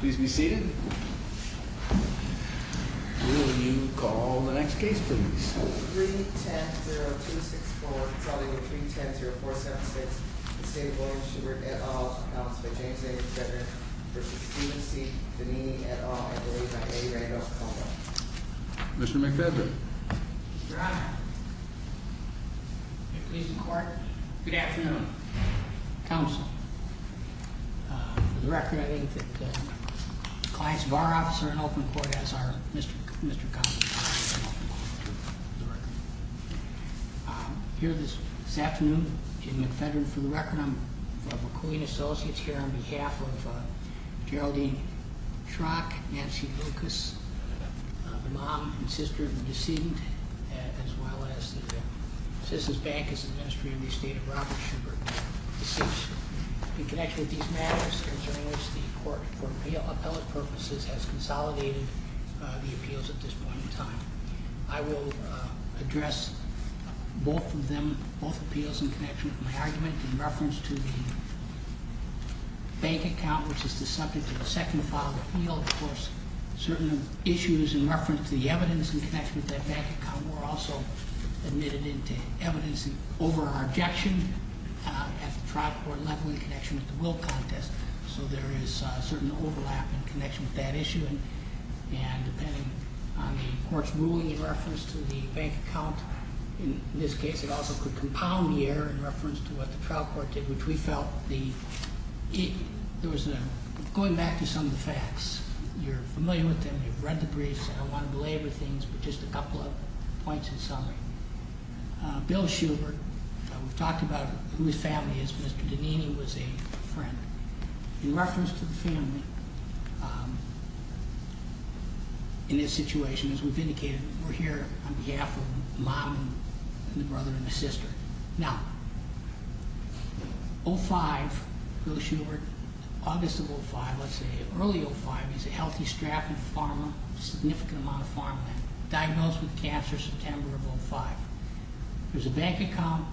Please be seated. Will you call the next case, please? 310-264-310-476, the state of William Schubert, et al., announced by James A. McFedrin v. Stephen C. Donini, et al., and approved by Amy Randolph-Colwell. Commissioner McFedrin. Your Honor. Please record. Good afternoon. Counsel. For the record, I think that the client's bar officer in open court, as our Mr. Mr. Here this afternoon, James McFedrin, for the record. I'm from McQueen Associates here on behalf of Geraldine Schrock, Nancy Lucas, the mom and sister of the decedent, as well as the Citizens Bank, as the Ministry of the State of Robert Schubert. Since in connection with these matters, concerning which the court, for appellate purposes, has consolidated the appeals at this point in time, I will address both of them, both appeals in connection with my argument in reference to the bank account, which is the subject of the second filed appeal. Of course, certain issues in reference to the evidence in connection with that bank account were also admitted into evidence. It's an overall objection at the trial court level in connection with the will contest. So there is a certain overlap in connection with that issue. And depending on the court's ruling in reference to the bank account, in this case, it also could compound the error in reference to what the trial court did, which we felt the, there was a, going back to some of the facts, you're familiar with them, you've read the briefs. I don't want to belabor things, but just a couple of points in summary. Bill Schubert, we've talked about who his family is. Mr. Donini was a friend. In reference to the family, in this situation, as we've indicated, we're here on behalf of a mom and a brother and a sister. Now, 05, Bill Schubert, August of 05, let's say, early 05, he's a healthy, strapping farmer, a significant amount of farmland. Diagnosed with cancer September of 05. There's a bank account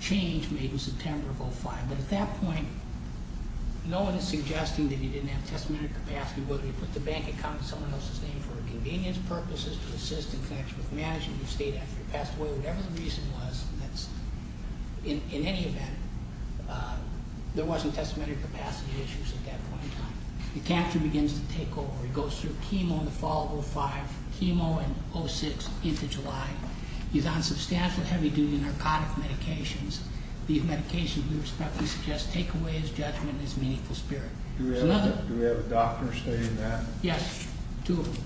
change made in September of 05. But at that point, no one is suggesting that he didn't have testimony capacity, whether he put the bank account in someone else's name for convenience purposes, to assist in connection with management. He stayed after he passed away. Whatever the reason was, that's, in any event, there wasn't testimony capacity issues at that point in time. The cancer begins to take over. It goes through chemo in the fall of 05, chemo in 06, into July. He's on substantial heavy duty narcotic medications. These medications, we respectfully suggest, take away his judgment and his meaningful spirit. There's another- Do we have a doctor stating that? Yes, two of them.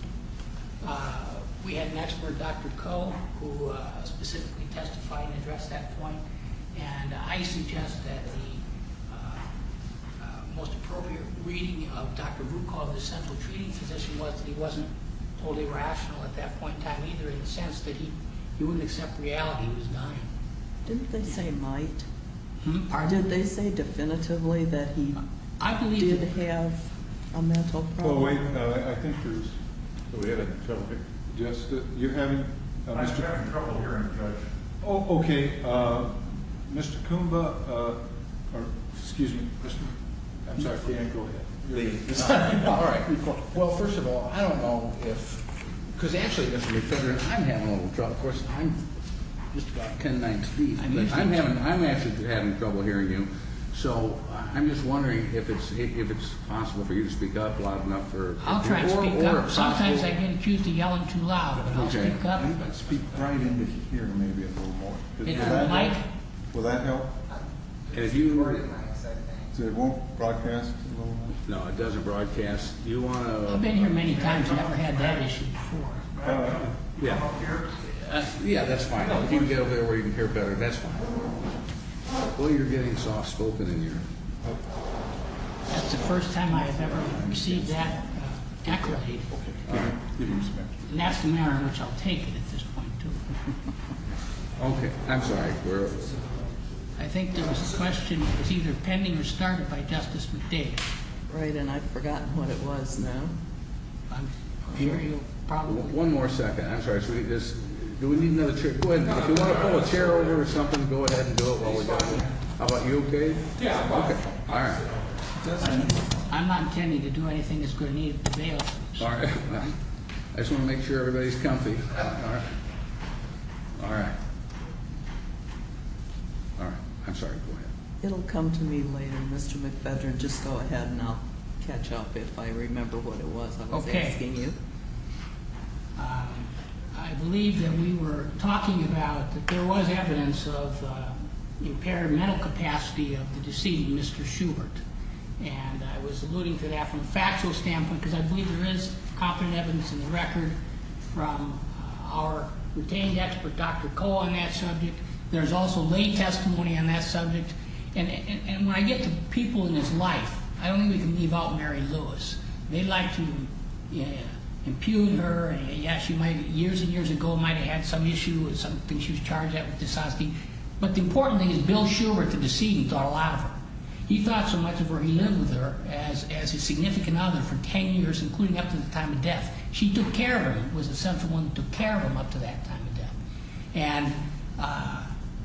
We had an expert, Dr. Coe, who specifically testified and addressed that point. And I suggest that the most appropriate reading of Dr. Rucol, the central treating physician, was that he wasn't totally rational at that point in time either, in the sense that he wouldn't accept the reality that he was dying. Didn't they say might? Pardon? Did they say definitively that he did have a mental problem? Well, wait, I think there's, we had a trouble here. Just, you're having- I'm having trouble hearing, Judge. Oh, okay. Mr. Kumba, or excuse me, I'm sorry, go ahead. All right. Well, first of all, I don't know if, because actually, Mr. McFedrin, I'm having a little trouble. Of course, I'm just about 10, 9 feet, but I'm having, I'm actually having trouble hearing you. So I'm just wondering if it's, if it's possible for you to speak up loud enough for- I'll try to speak up. Sometimes I get accused of yelling too loud, but I'll speak up. I think I'd speak right into hearing maybe a little more. Is that a mic? Will that help? And if you were to- It's recording mics, I think. So it won't broadcast a little more? No, it doesn't broadcast. Do you want to- I've been here many times. I've never had that issue before. You don't care? Yeah, that's fine. If you can get over there where you can hear better, that's fine. Well, you're getting soft-spoken in here. That's the first time I've ever received that accolade. Okay, all right. And that's the manner in which I'll take it at this point, too. Okay. I'm sorry. I think there was a question. It was either pending or started by Justice McDade. Right, and I've forgotten what it was now. I'm sure you probably- One more second. I'm sorry. Do we need another chair? Go ahead. If you want to pull a chair over or something, go ahead and do it while we're done. How about you, okay? Yeah, I'm fine. Okay, all right. I'm not intending to do anything that's going to need to be available. All right. I just want to make sure everybody's comfy. All right. All right. All right. I'm sorry. Go ahead. It'll come to me later, Mr. McFedrin. Just go ahead, and I'll catch up if I remember what it was I was asking you. Okay. I believe that we were talking about that there was evidence of impaired mental capacity of the deceased, Mr. Schubert. And I was alluding to that from a factual standpoint because I believe there is confident evidence in the record from our retained expert, Dr. Koh, on that subject. There's also lay testimony on that subject. And when I get to people in his life, I don't think we can leave out Mary Lewis. They like to impugn her, and, yes, she might have, years and years ago, might have had some issue with something she was charged at with this hospital. But the important thing is Bill Schubert, the decedent, thought a lot of her. He thought so much of her. He lived with her as his significant other for 10 years, including up to the time of death. She took care of him, was the central one that took care of him up to that time of death. And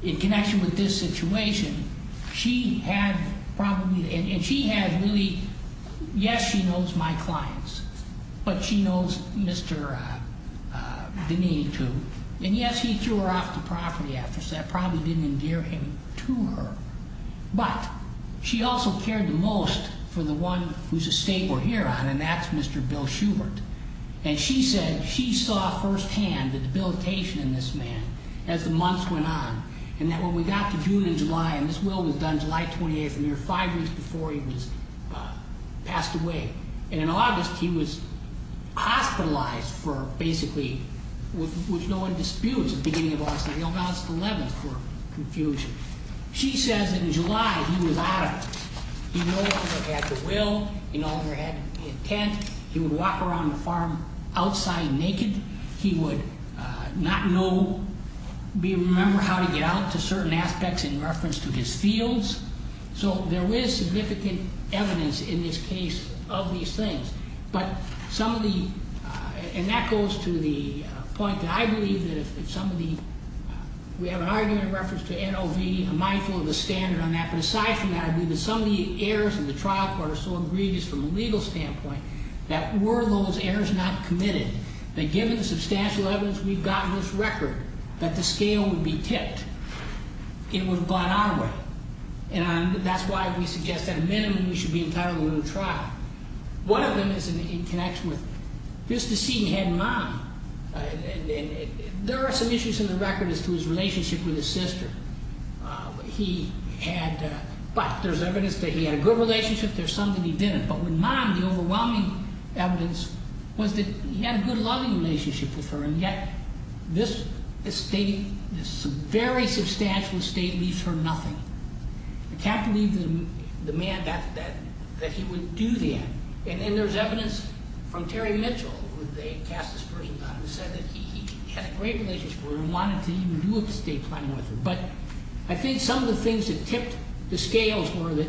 in connection with this situation, she had probably, and she had really, yes, she knows my clients, but she knows Mr. Dineen, too. And, yes, he threw her off the property after, so that probably didn't endear him to her. But she also cared the most for the one whose estate we're here on, and that's Mr. Bill Schubert. And she said she saw firsthand the debilitation in this man as the months went on, and that when we got to June and July, and this will was done July 28th, a mere five weeks before he was passed away, and in August he was hospitalized for basically, with no one to dispute, it was the beginning of August, and we announced the 11th for confusion. She says in July he was out of it. He no longer had the will. He no longer had the intent. He would walk around the farm outside naked. He would not know, remember how to get out to certain aspects in reference to his fields. So there is significant evidence in this case of these things. But some of the, and that goes to the point that I believe that if some of the, we have an argument in reference to NOV, I'm mindful of the standard on that. But aside from that, I believe that some of the errors in the trial court are so egregious from a legal standpoint that were those errors not committed, that given the substantial evidence we've got in this record, that the scale would be tipped, it would have gone our way. And that's why we suggest at a minimum we should be entitled to a new trial. One of them is in connection with this deceit he had in mind. There are some issues in the record as to his relationship with his sister. He had, but there's evidence that he had a good relationship. There's some that he didn't. But with mine, the overwhelming evidence was that he had a good loving relationship with her, and yet this state, this very substantial estate leaves her nothing. I can't believe the man that he would do that. And then there's evidence from Terry Mitchell, who they cast this person on, who said that he had a great relationship with her and wanted to even do estate planning with her. But I think some of the things that tipped the scales were that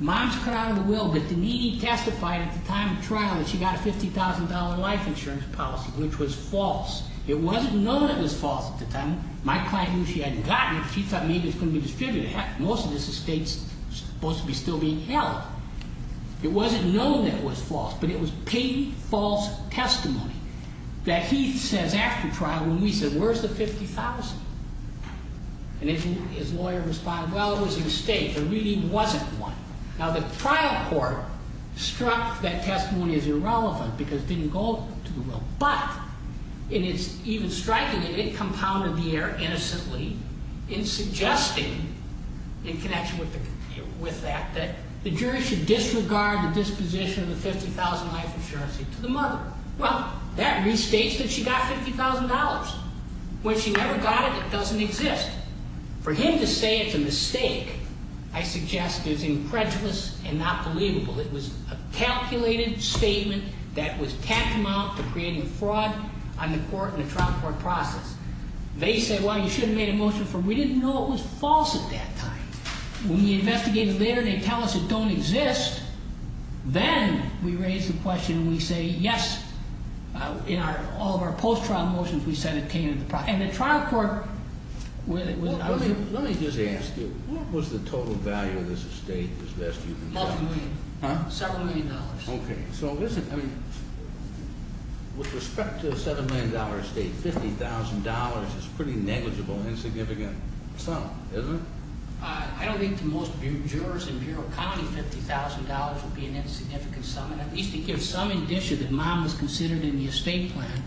mom's cut out of the will, but the needy testified at the time of trial that she got a $50,000 life insurance policy, which was false. It wasn't known it was false at the time. My client knew she hadn't gotten it. She thought maybe it was going to be distributed. Heck, most of this estate's supposed to be still being held. It wasn't known that it was false, but it was paid false testimony that he says after trial, when we said, where's the $50,000? And his lawyer responded, well, it was a mistake. There really wasn't one. Now, the trial court struck that testimony as irrelevant because it didn't go to the will. But in its even striking it, it compounded the error innocently in suggesting, in connection with that, that the jury should disregard the disposition of the $50,000 life insurance to the mother. Well, that restates that she got $50,000. When she never got it, it doesn't exist. For him to say it's a mistake, I suggest, is incredulous and not believable. It was a calculated statement that was tapped him out for creating fraud on the court in the trial court process. They said, well, you should have made a motion for it. We didn't know it was false at that time. When we investigated later, they tell us it don't exist. Then we raise the question and we say, yes, in all of our post-trial motions, we said it came into the process. And the trial court wasn't. Let me just ask you, what was the total value of this estate as best you can tell? Several million dollars. Okay. With respect to a $7 million estate, $50,000 is a pretty negligible, insignificant sum, isn't it? I don't think to most jurors in Bureau County, $50,000 would be an insignificant sum. At least to give some indication that mom was considered in the estate plan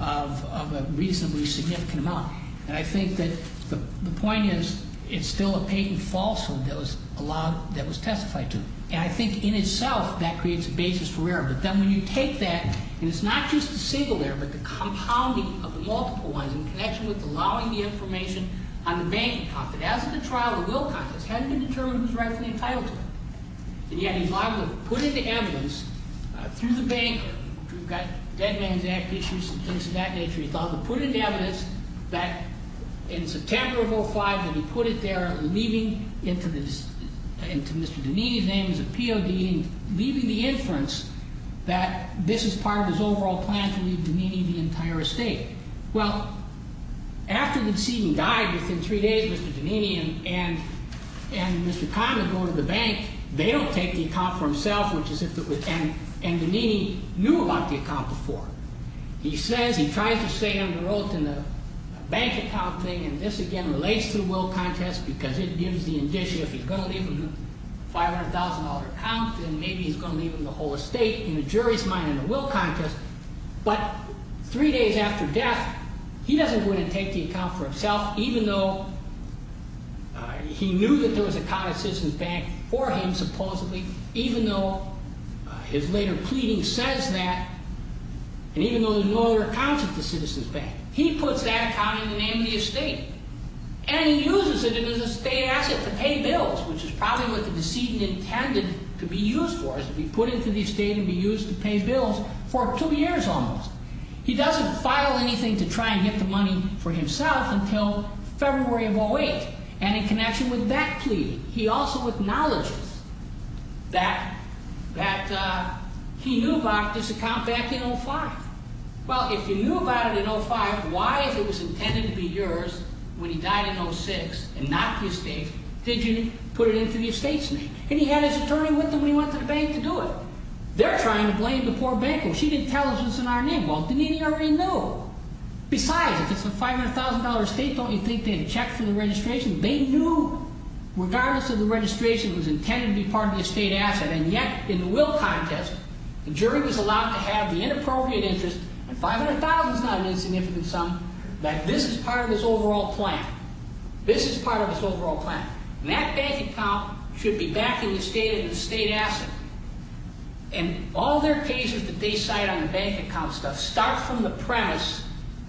of a reasonably significant amount. And I think that the point is, it's still a patent falsehood that was allowed, that was testified to. And I think in itself, that creates a basis for error. But then when you take that, and it's not just a single error, but the compounding of the multiple ones in connection with allowing the information on the bank account, that as of the trial, the will contest, it hasn't been determined who's rightfully entitled to it. And yet he's liable to put into evidence through the banker, which we've got Dead Man's Act issues and things of that nature, he thought he'd put into evidence that in September of 05, that he put it there, leaving into Mr. Danini's name as a POD, and leaving the inference that this is part of his overall plan to leave Danini the entire estate. Well, after the decedent died, within three days, Mr. Danini and Mr. Conner go to the bank. They don't take the account for himself, which is if it would end. And Danini knew about the account before. He says he tries to stay under oath in the bank account thing. And this, again, relates to the will contest, because it gives the indicia if he's going to leave him a $500,000 account, then maybe he's going to leave him the whole estate. And the jury's mine in the will contest. But three days after death, he doesn't go in and take the account for himself, even though he knew that there was a college citizen's bank for him, supposedly, even though his later pleading says that, and even though there's no other accounts at the citizen's bank. He puts that account in the name of the estate. And he uses it as an estate asset to pay bills, which is probably what the decedent intended to be used for, is to be put into the estate and be used to pay bills for two years almost. He doesn't file anything to try and get the money for himself until February of 08. And in connection with that pleading, he also acknowledges that he knew about this account back in 05. Well, if you knew about it in 05, why, if it was intended to be yours when he died in 06 and not the estate, did you put it into the estate's name? And he had his attorney with him when he went to the bank to do it. They're trying to blame the poor banker. She didn't tell us it was in our name. Well, then he already knew. Besides, if it's a $500,000 estate, don't you think they'd check for the registration? They knew, regardless of the registration, it was intended to be part of the estate asset. And yet, in the will contest, the jury was allowed to have the inappropriate interest, and $500,000 is not an insignificant sum, that this is part of his overall plan. This is part of his overall plan. And that bank account should be back in the estate as an estate asset. And all their cases that they cite on the bank account stuff start from the premise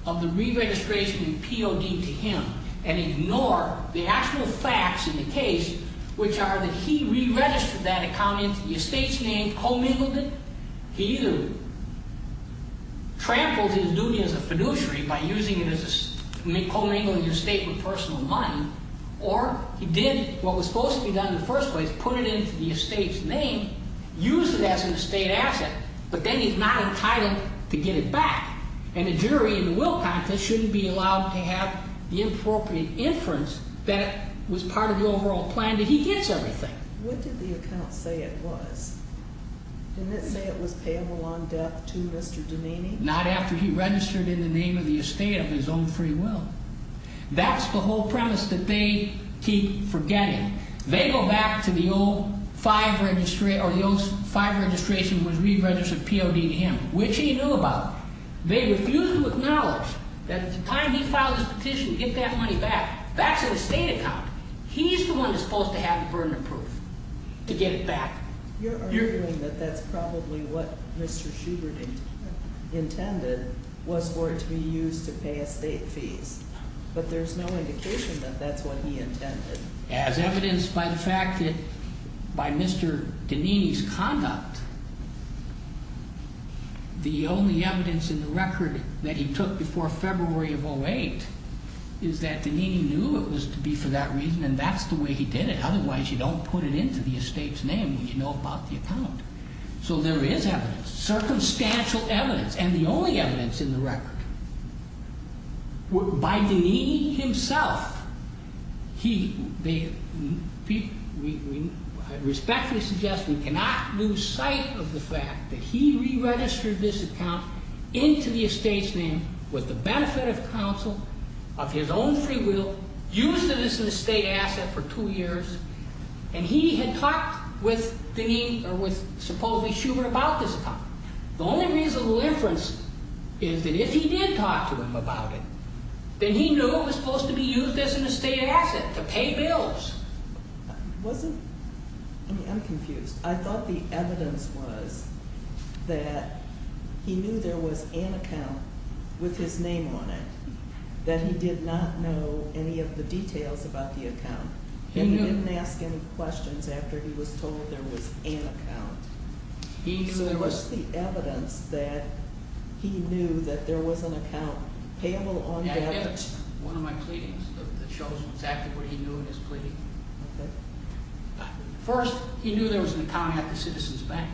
of the re-registration and POD to him and ignore the actual facts in the case, which are that he re-registered that account into the estate's name, co-mingled it. He either trampled his duty as a fiduciary by using it as a co-mingling estate with personal money, or he did what was supposed to be done in the first place, put it into the estate's name, used it as an estate asset, but then he's not entitled to get it back. And the jury in the will contest shouldn't be allowed to have the inappropriate inference that it was part of the overall plan, that he gets everything. What did the account say it was? Didn't it say it was payable on death to Mr. Dunaney? Not after he registered in the name of the estate of his own free will. That's the whole premise that they keep forgetting. They go back to the old five registration, or the old five registration was re-registered POD to him, which he knew about. They refuse to acknowledge that at the time he filed his petition to get that money back, that's an estate account. He's the one that's supposed to have the burden of proof to get it back. You're arguing that that's probably what Mr. Schubert intended was for it to be used to pay estate fees, but there's no indication that that's what he intended. As evidenced by the fact that by Mr. Dunaney's conduct, the only evidence in the record that he took before February of 08 is that Dunaney knew it was to be for that reason, and that's the way he did it. Otherwise, you don't put it into the estate's name when you know about the account. So there is evidence, circumstantial evidence, and the only evidence in the record. By Dunaney himself, they respectfully suggest we cannot lose sight of the fact that he re-registered this account into the estate's name with the benefit of counsel, of his own free will, used it as an estate asset for two years, and he had talked with supposedly Schubert about this account. The only reasonable inference is that if he did talk to him about it, then he knew it was supposed to be used as an estate asset to pay bills. I'm confused. I thought the evidence was that he knew there was an account with his name on it, that he did not know any of the details about the account, and he didn't ask any questions after he was told there was an account. So there was the evidence that he knew that there was an account payable on debt? Yes, one of my pleadings that shows exactly what he knew in his pleading. Okay. First, he knew there was an account at the Citizens Bank.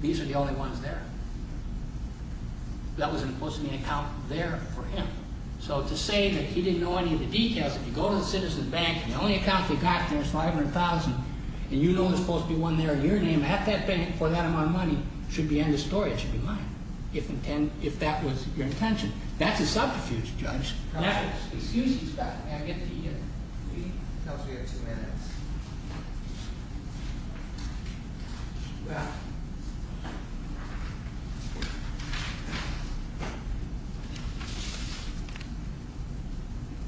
These are the only ones there. That wasn't supposed to be an account there for him. So to say that he didn't know any of the details, if you go to the Citizens Bank and the only account they've got there is $500,000 and you know there's supposed to be one there in your name at that bank for that amount of money, should be end of story. It should be mine if that was your intention. That's a subterfuge, Judge. Excuse me a second. May I get the e-mail? We have two minutes. Okay.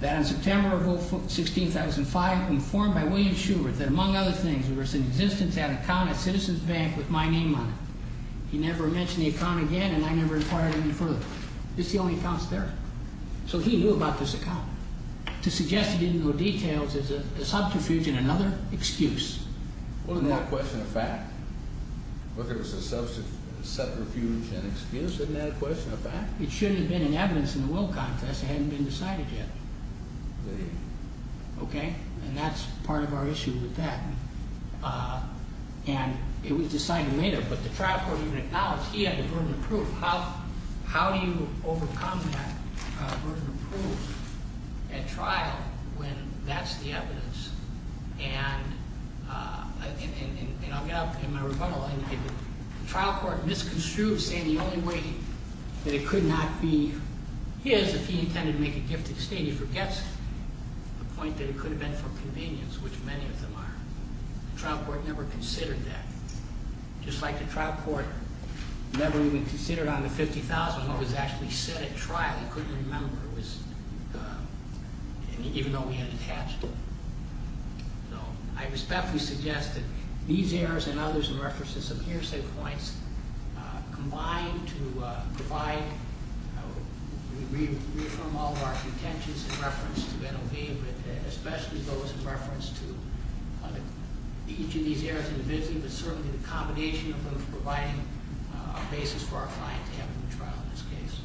That on September 16, 2005, informed by William Schubert that, among other things, there was an existence at an account at Citizens Bank with my name on it. He never mentioned the account again, and I never inquired any further. This is the only account there. So he knew about this account. To suggest he didn't know details is a subterfuge and another excuse. Wasn't that a question of fact? Whether it was a subterfuge and excuse? Isn't that a question of fact? It should have been in evidence in the will contest. It hadn't been decided yet. Okay? And that's part of our issue with that. And it was decided later. But the trial court even acknowledged he had the burden of proof. How do you overcome that burden of proof at trial when that's the evidence? And I'll get up in my rebuttal. The trial court misconstrued saying the only way that it could not be his if he intended to make a gifted state. He forgets the point that it could have been for convenience, which many of them are. The trial court never considered that. Just like the trial court never even considered on the $50,000 what was actually said at trial. He couldn't remember. Even though he had attached it. I respectfully suggest that these errors and others in reference to some hearsay points combined to provide, we reaffirm all of our contentions in reference to NOV, especially those in reference to each of these errors in the visiting, but certainly the combination of them providing a basis for our client to have a trial in this case.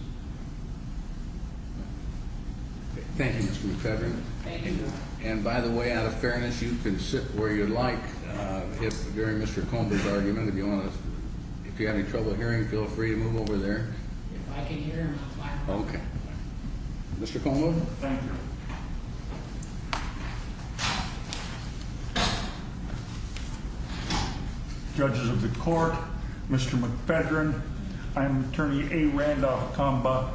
Thank you, Mr. McFeather. Thank you, Your Honor. And by the way, out of fairness, you can sit where you'd like. If, during Mr. Como's argument, if you want to, if you have any trouble hearing, feel free to move over there. If I can hear, I'm fine. Okay. Mr. Como? Thank you. Thank you, Your Honor. Judges of the court, Mr. McFeather, I'm attorney A. Randolph Comba.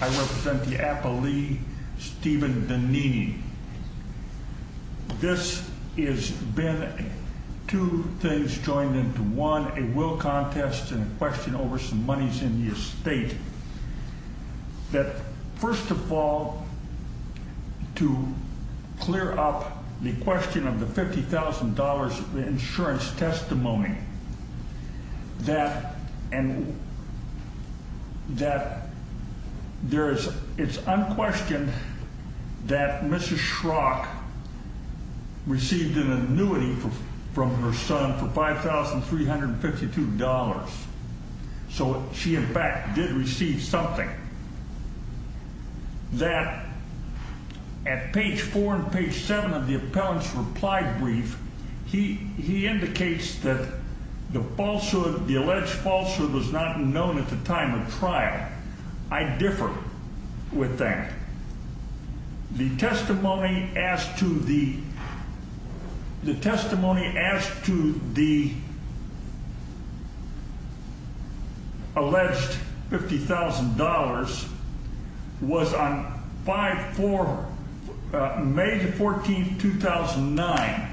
I represent the appellee, Stephen Donini. This has been two things joined into one, a will contest and a question over some monies in the estate. That, first of all, to clear up the question of the $50,000 insurance testimony, that there is, it's unquestioned that Mrs. Schrock received an annuity from her son for $5,352. So she, in fact, did receive something. That at page four and page seven of the appellant's reply brief, he indicates that the falsehood, the alleged falsehood was not known at the time of trial. I differ with that. The testimony as to the alleged $50,000 was on 5-4, May 14, 2009,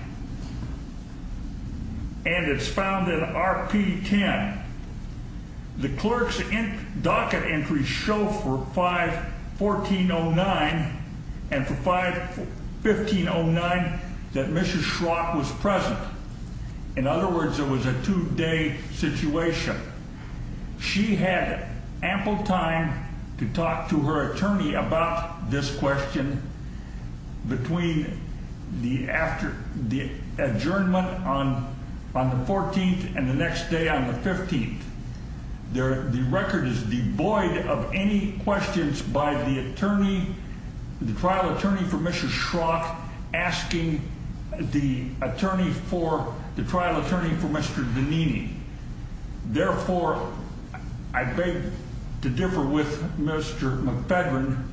and it's found in RP-10. The clerk's docket entries show for 5-14-09 and for 5-15-09 that Mrs. Schrock was present. In other words, it was a two-day situation. She had ample time to talk to her attorney about this question between the adjournment on the 14th and the next day on the 15th. The record is devoid of any questions by the attorney, the trial attorney for Mrs. Schrock, asking the trial attorney for Mr. Donini. Therefore, I beg to differ with Mr. McFedrin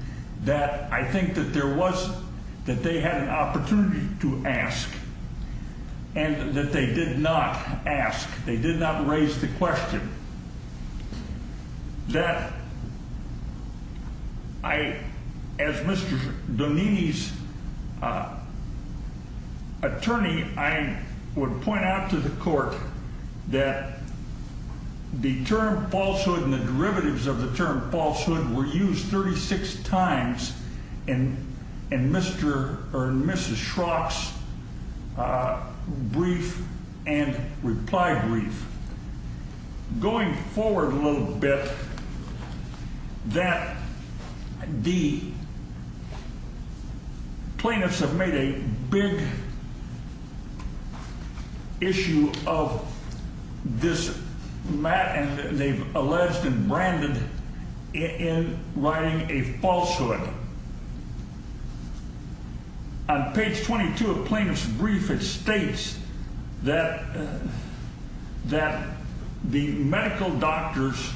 that I think that there was that they had an opportunity to ask and that they did not ask. They did not raise the question. That I, as Mr. Donini's attorney, I would point out to the court that the term falsehood and the derivatives of the term falsehood were used 36 times in Mr. or Mrs. Schrock's brief and reply brief. Going forward a little bit, that the plaintiffs have made a big issue of this mat and they've alleged and branded in writing a falsehood. On page 22 of plaintiff's brief, it states that the medical doctors,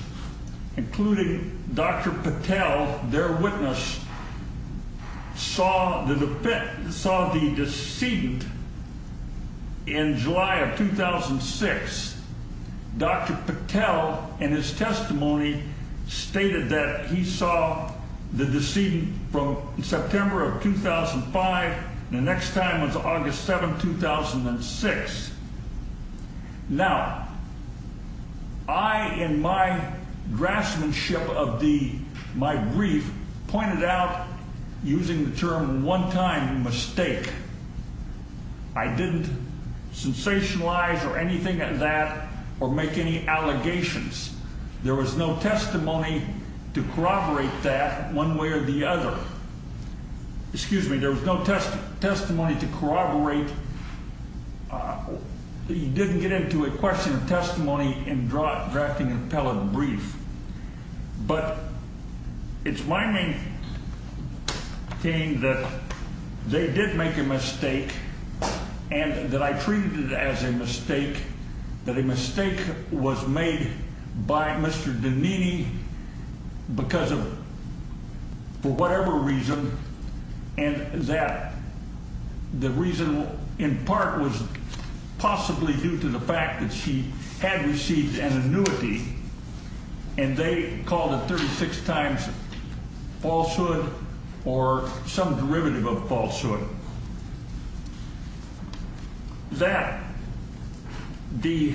including Dr. Patel, their witness, saw the decedent in July of 2006. Dr. Patel, in his testimony, stated that he saw the decedent from September of 2005 and the next time was August 7, 2006. Now, I, in my draftsmanship of my brief, pointed out using the term one-time mistake. I didn't sensationalize or anything like that or make any allegations. There was no testimony to corroborate that one way or the other. Excuse me, there was no testimony to corroborate. He didn't get into a question of testimony in drafting an appellate brief. But it's my main thing that they did make a mistake and that I treated it as a mistake. That a mistake was made by Mr. Donini because of, for whatever reason, and that the reason in part was possibly due to the fact that she had received an annuity. And they called it 36 times falsehood or some derivative of falsehood. That the,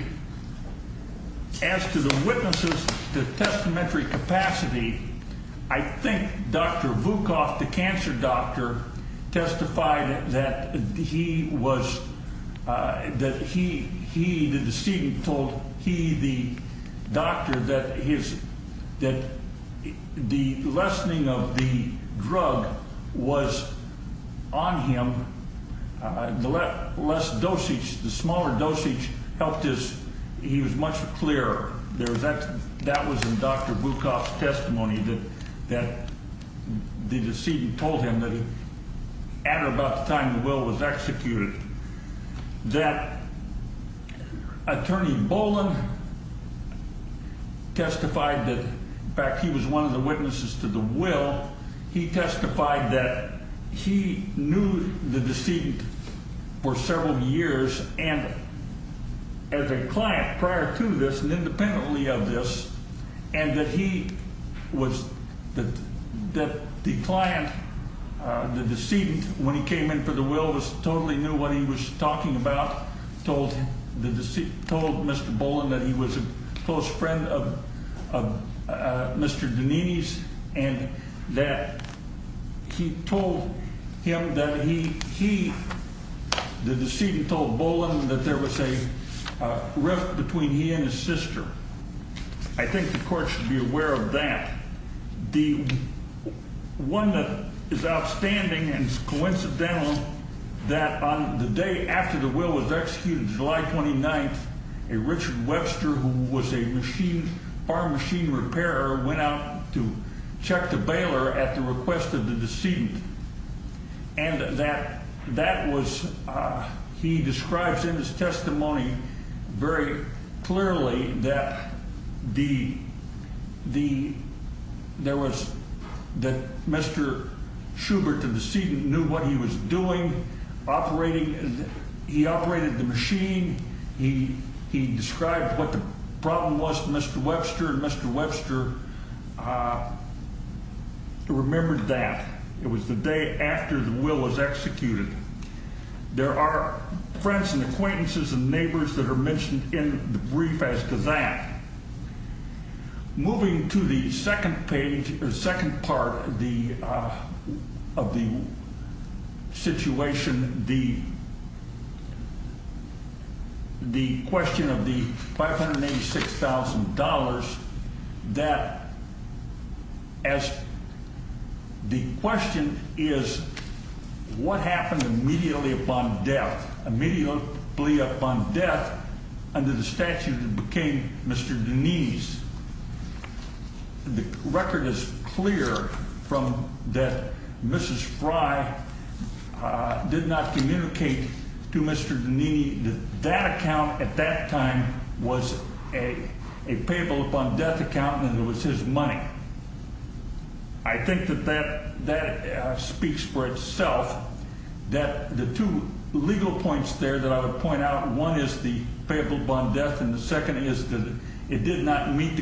as to the witnesses, the testamentary capacity, I think Dr. Vukov, the cancer doctor, testified that he was, that he, he, the decedent told he, the doctor, that his, that the lessening of the drug was on him. The less dosage, the smaller dosage helped his, he was much clearer. There was that, that was in Dr. Vukov's testimony that, that the decedent told him that at or about the time the will was executed. That Attorney Boland testified that, in fact, he was one of the witnesses to the will. He testified that he knew the decedent for several years and as a client prior to this and independently of this, and that he was, that the client, the decedent, when he came in for the will, totally knew what he was talking about. He told him that he, the decedent told Mr. Boland that he was a close friend of Mr. Dineen's and that he told him that he, he, the decedent told Boland that there was a rift between he and his sister. I think the court should be aware of that. The one that is outstanding and coincidental that on the day after the will was executed, July 29th, a Richard Webster, who was a machine, arm machine repairer, went out to check the bailer at the request of the decedent. And that, that was, he describes in his testimony very clearly that the, the, there was, that Mr. Schubert, the decedent, knew what he was doing, operating, he operated the machine. He, he described what the problem was to Mr. Webster and Mr. Webster remembered that. It was the day after the will was executed. There are friends and acquaintances and neighbors that are mentioned in the brief as to that. Moving to the second page or second part of the, of the situation, the, the question of the $586,000 that, as the question is, what happened immediately upon death? Immediately upon death under the statute became Mr. Denise. The record is clear from that. Mrs. Fry did not communicate to Mr. Nene. That account at that time was a payable upon death account and it was his money. I think that that that speaks for itself, that the two legal points there that I would point out. One is the payable bond death. And the second is that it did not meet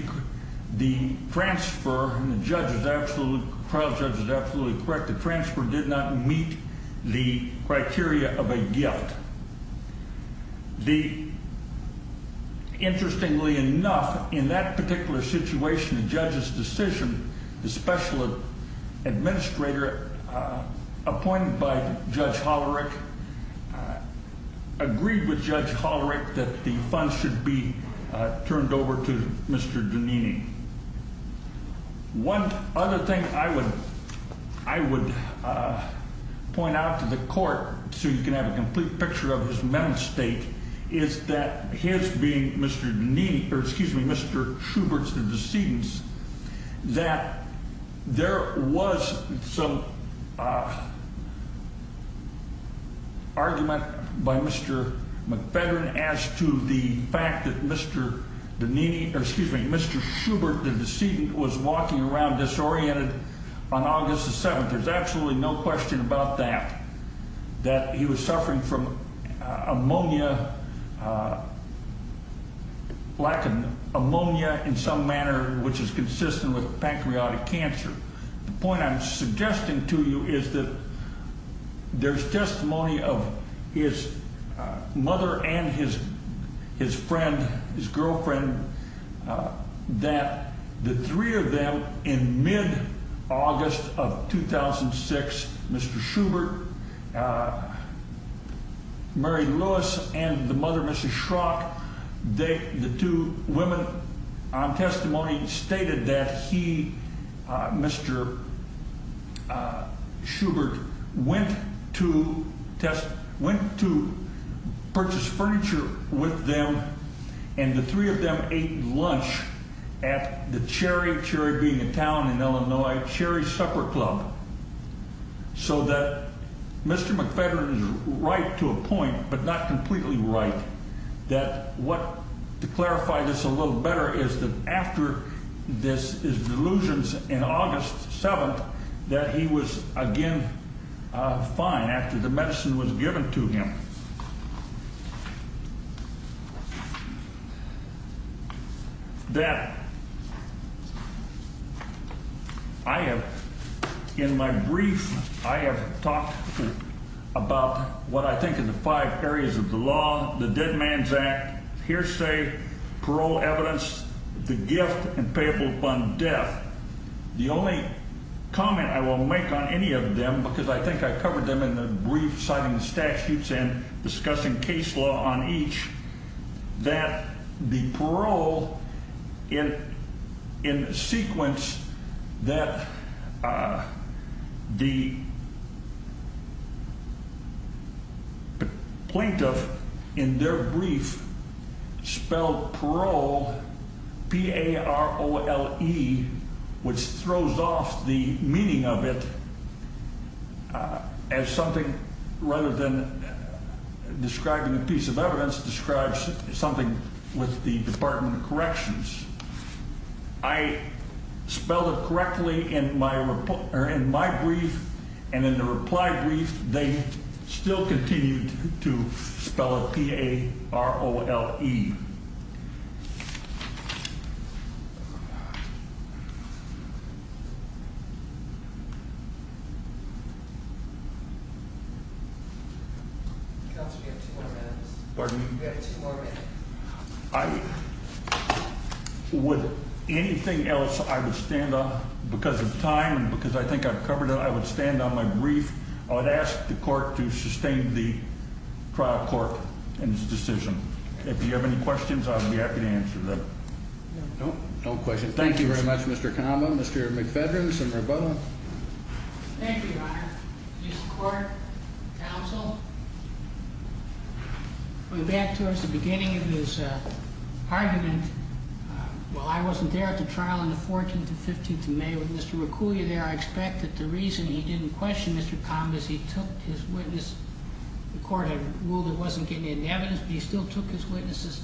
the transfer. And the judge is absolutely proud. Judge is absolutely correct. The transfer did not meet the criteria of a gift. The. Interestingly enough, in that particular situation, the judge's decision, the special administrator appointed by Judge Hollerick. Agreed with Judge Hollerick that the funds should be turned over to Mr. One other thing I would, I would point out to the court. So you can have a complete picture of his mental state. Is that his being Mr. Knee or excuse me, Mr. Schubert's the decedents that there was some. Argument by Mr. McFedrin as to the fact that Mr. The knee or excuse me, Mr. Schubert, the decedent was walking around disoriented on August the 7th. There's absolutely no question about that, that he was suffering from ammonia. Black and ammonia in some manner, which is consistent with pancreatic cancer. The point I'm suggesting to you is that there's testimony of his mother and his, his friend, his girlfriend. That the three of them in mid August of 2006, Mr. Schubert. They, the two women on testimony stated that he, Mr. Schubert went to test, went to purchase furniture with them. And the three of them ate lunch at the cherry, cherry being a town in Illinois, cherry supper club. So that Mr. McFedrin is right to a point, but not completely right. That what to clarify this a little better is that after this is delusions in August 7th, that he was again. Fine after the medicine was given to him. That. I have in my brief, I have talked about what I think in the five areas of the law, the dead man's act, hearsay, parole evidence, the gift and payable fund death. The only comment I will make on any of them, because I think I covered them in the brief, citing the statutes and discussing case law on each. That the parole in in sequence that. The. Plaintiff in their brief spelled parole p a r o l e, which throws off the meaning of it. As something rather than describing a piece of evidence, describes something with the Department of Corrections. I spelled it correctly in my report or in my brief and in the reply brief, they still continued to spell it p a r o l e. I. Would anything else I would stand up because of time because I think I've covered it. I would stand on my brief. I would ask the court to sustain the trial court and his decision. If you have any questions, I'll be happy to answer that. No, no question. Thank you very much. Mr. Common. Mr. McFedrin. Some are both. Thank you. Honor. Court. Counsel. We're back towards the beginning of his argument. Well, I wasn't there at the trial on the 14th and 15th of May with Mr. Raccoon. You're there. I expect that the reason he didn't question Mr. Combs. He took his witness. The court had ruled it wasn't getting any evidence, but he still took his witnesses.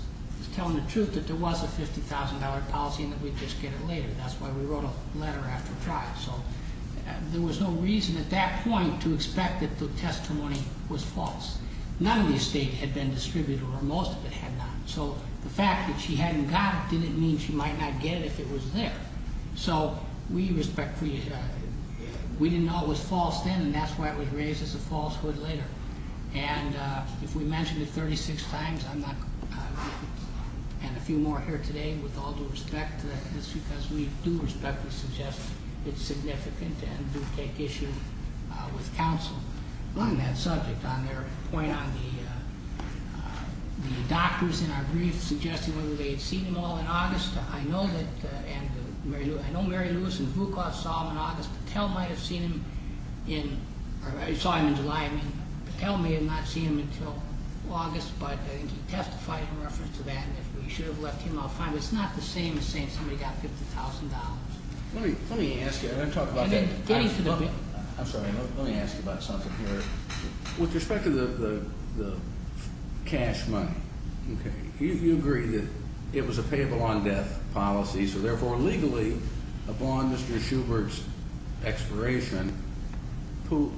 Telling the truth that there was a $50,000 policy and that we'd just get it later. That's why we wrote a letter after trial. So there was no reason at that point to expect that the testimony was false. None of the estate had been distributed or most of it had not. So the fact that she hadn't got it didn't mean she might not get it if it was there. So we respect. We didn't know it was false then and that's why it was raised as a falsehood later. And if we mentioned it 36 times, I'm not. And a few more here today with all due respect. That's because we do respectfully suggest it's significant and do take issue with counsel on that subject on their point on the doctors in our brief suggesting whether they had seen him all in August. I know that. And I know Mary Lewis and Vukov saw him in August. Patel might have seen him in July. Patel may have not seen him until August. But I think he testified in reference to that. And if we should have left him, I'll find. No, it's not the same as saying somebody got $50,000. Let me let me ask you. I'm going to talk about that. I'm sorry. Let me ask you about something here. With respect to the cash money. Okay. You agree that it was a payable on death policy. So therefore, legally, upon Mr. Schubert's expiration,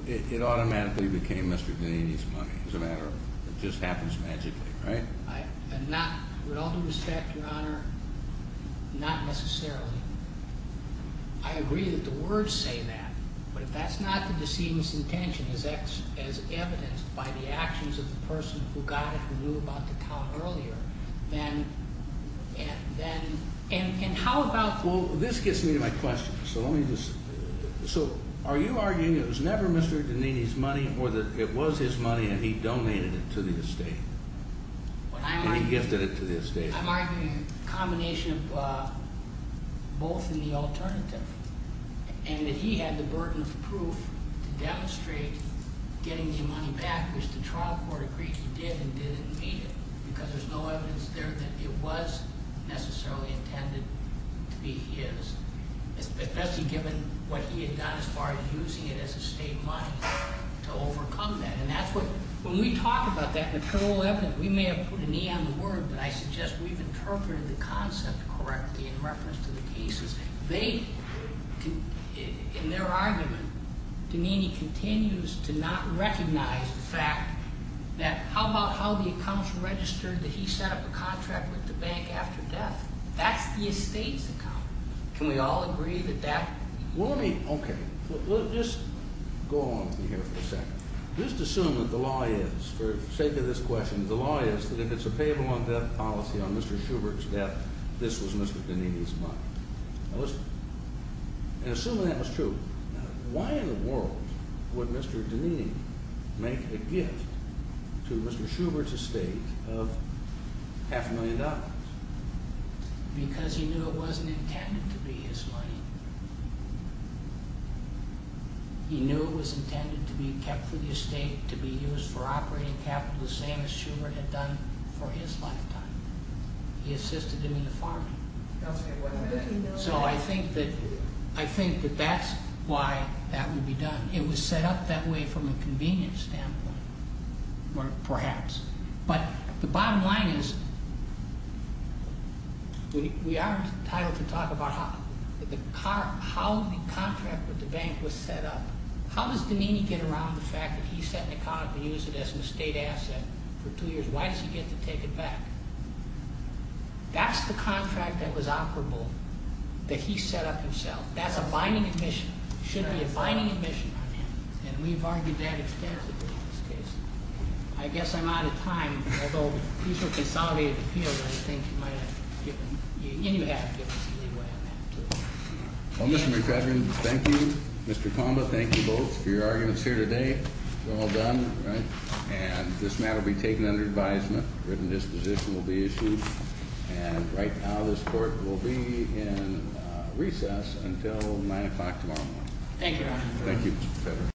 it automatically became Mr. Danny's money. It's a matter of it just happens magically, right? Not with all due respect, Your Honor. Not necessarily. I agree that the words say that. But if that's not the decedent's intention is X as evidenced by the actions of the person who got it, who knew about the town earlier, then. And then. And how about. Well, this gets me to my question. So let me just. So are you arguing it was never Mr. Danini's money or that it was his money and he donated it to the estate? I'm arguing. He gifted it to the estate. I'm arguing a combination of both and the alternative. And that he had the burden of proof to demonstrate getting the money back, which the trial court agreed he did and didn't need it. Because there's no evidence there that it was necessarily intended to be his. Especially given what he had done as far as using it as estate money to overcome that. And that's what, when we talk about that material evidence, we may have put an E on the word, but I suggest we've interpreted the concept correctly in reference to the cases. They, in their argument, Danini continues to not recognize the fact that how about how the accounts registered that he set up a contract with the bank after death. That's the estate's account. Can we all agree that that. Well, let me. Okay. We'll just go on from here for a second. Just assume that the law is, for the sake of this question, the law is that if it's a payable on death policy on Mr. Schubert's death, this was Mr. Danini's money. Now let's, and assuming that was true, why in the world would Mr. Danini make a gift to Mr. Schubert's estate of half a million dollars? Because he knew it wasn't intended to be his money. He knew it was intended to be kept for the estate, to be used for operating capital, the same as Schubert had done for his lifetime. He assisted him in the farming. So I think that, I think that that's why that would be done. It was set up that way from a convenience standpoint, or perhaps. But the bottom line is, we are entitled to talk about how, how the contract with the bank was set up. How does Danini get around the fact that he set an account and used it as an estate asset for two years? Why does he get to take it back? That's the contract that was operable that he set up himself. That's a binding admission. It should be a binding admission on him. And we've argued that extensively in this case. I guess I'm out of time. Although, these were consolidated appeals, I think you might have given, Well, Mr. McFedrin, thank you. Mr. Kamba, thank you both for your arguments here today. It's all done, right? And this matter will be taken under advisement. Written disposition will be issued. And right now, this court will be in recess Thank you, Your Honor.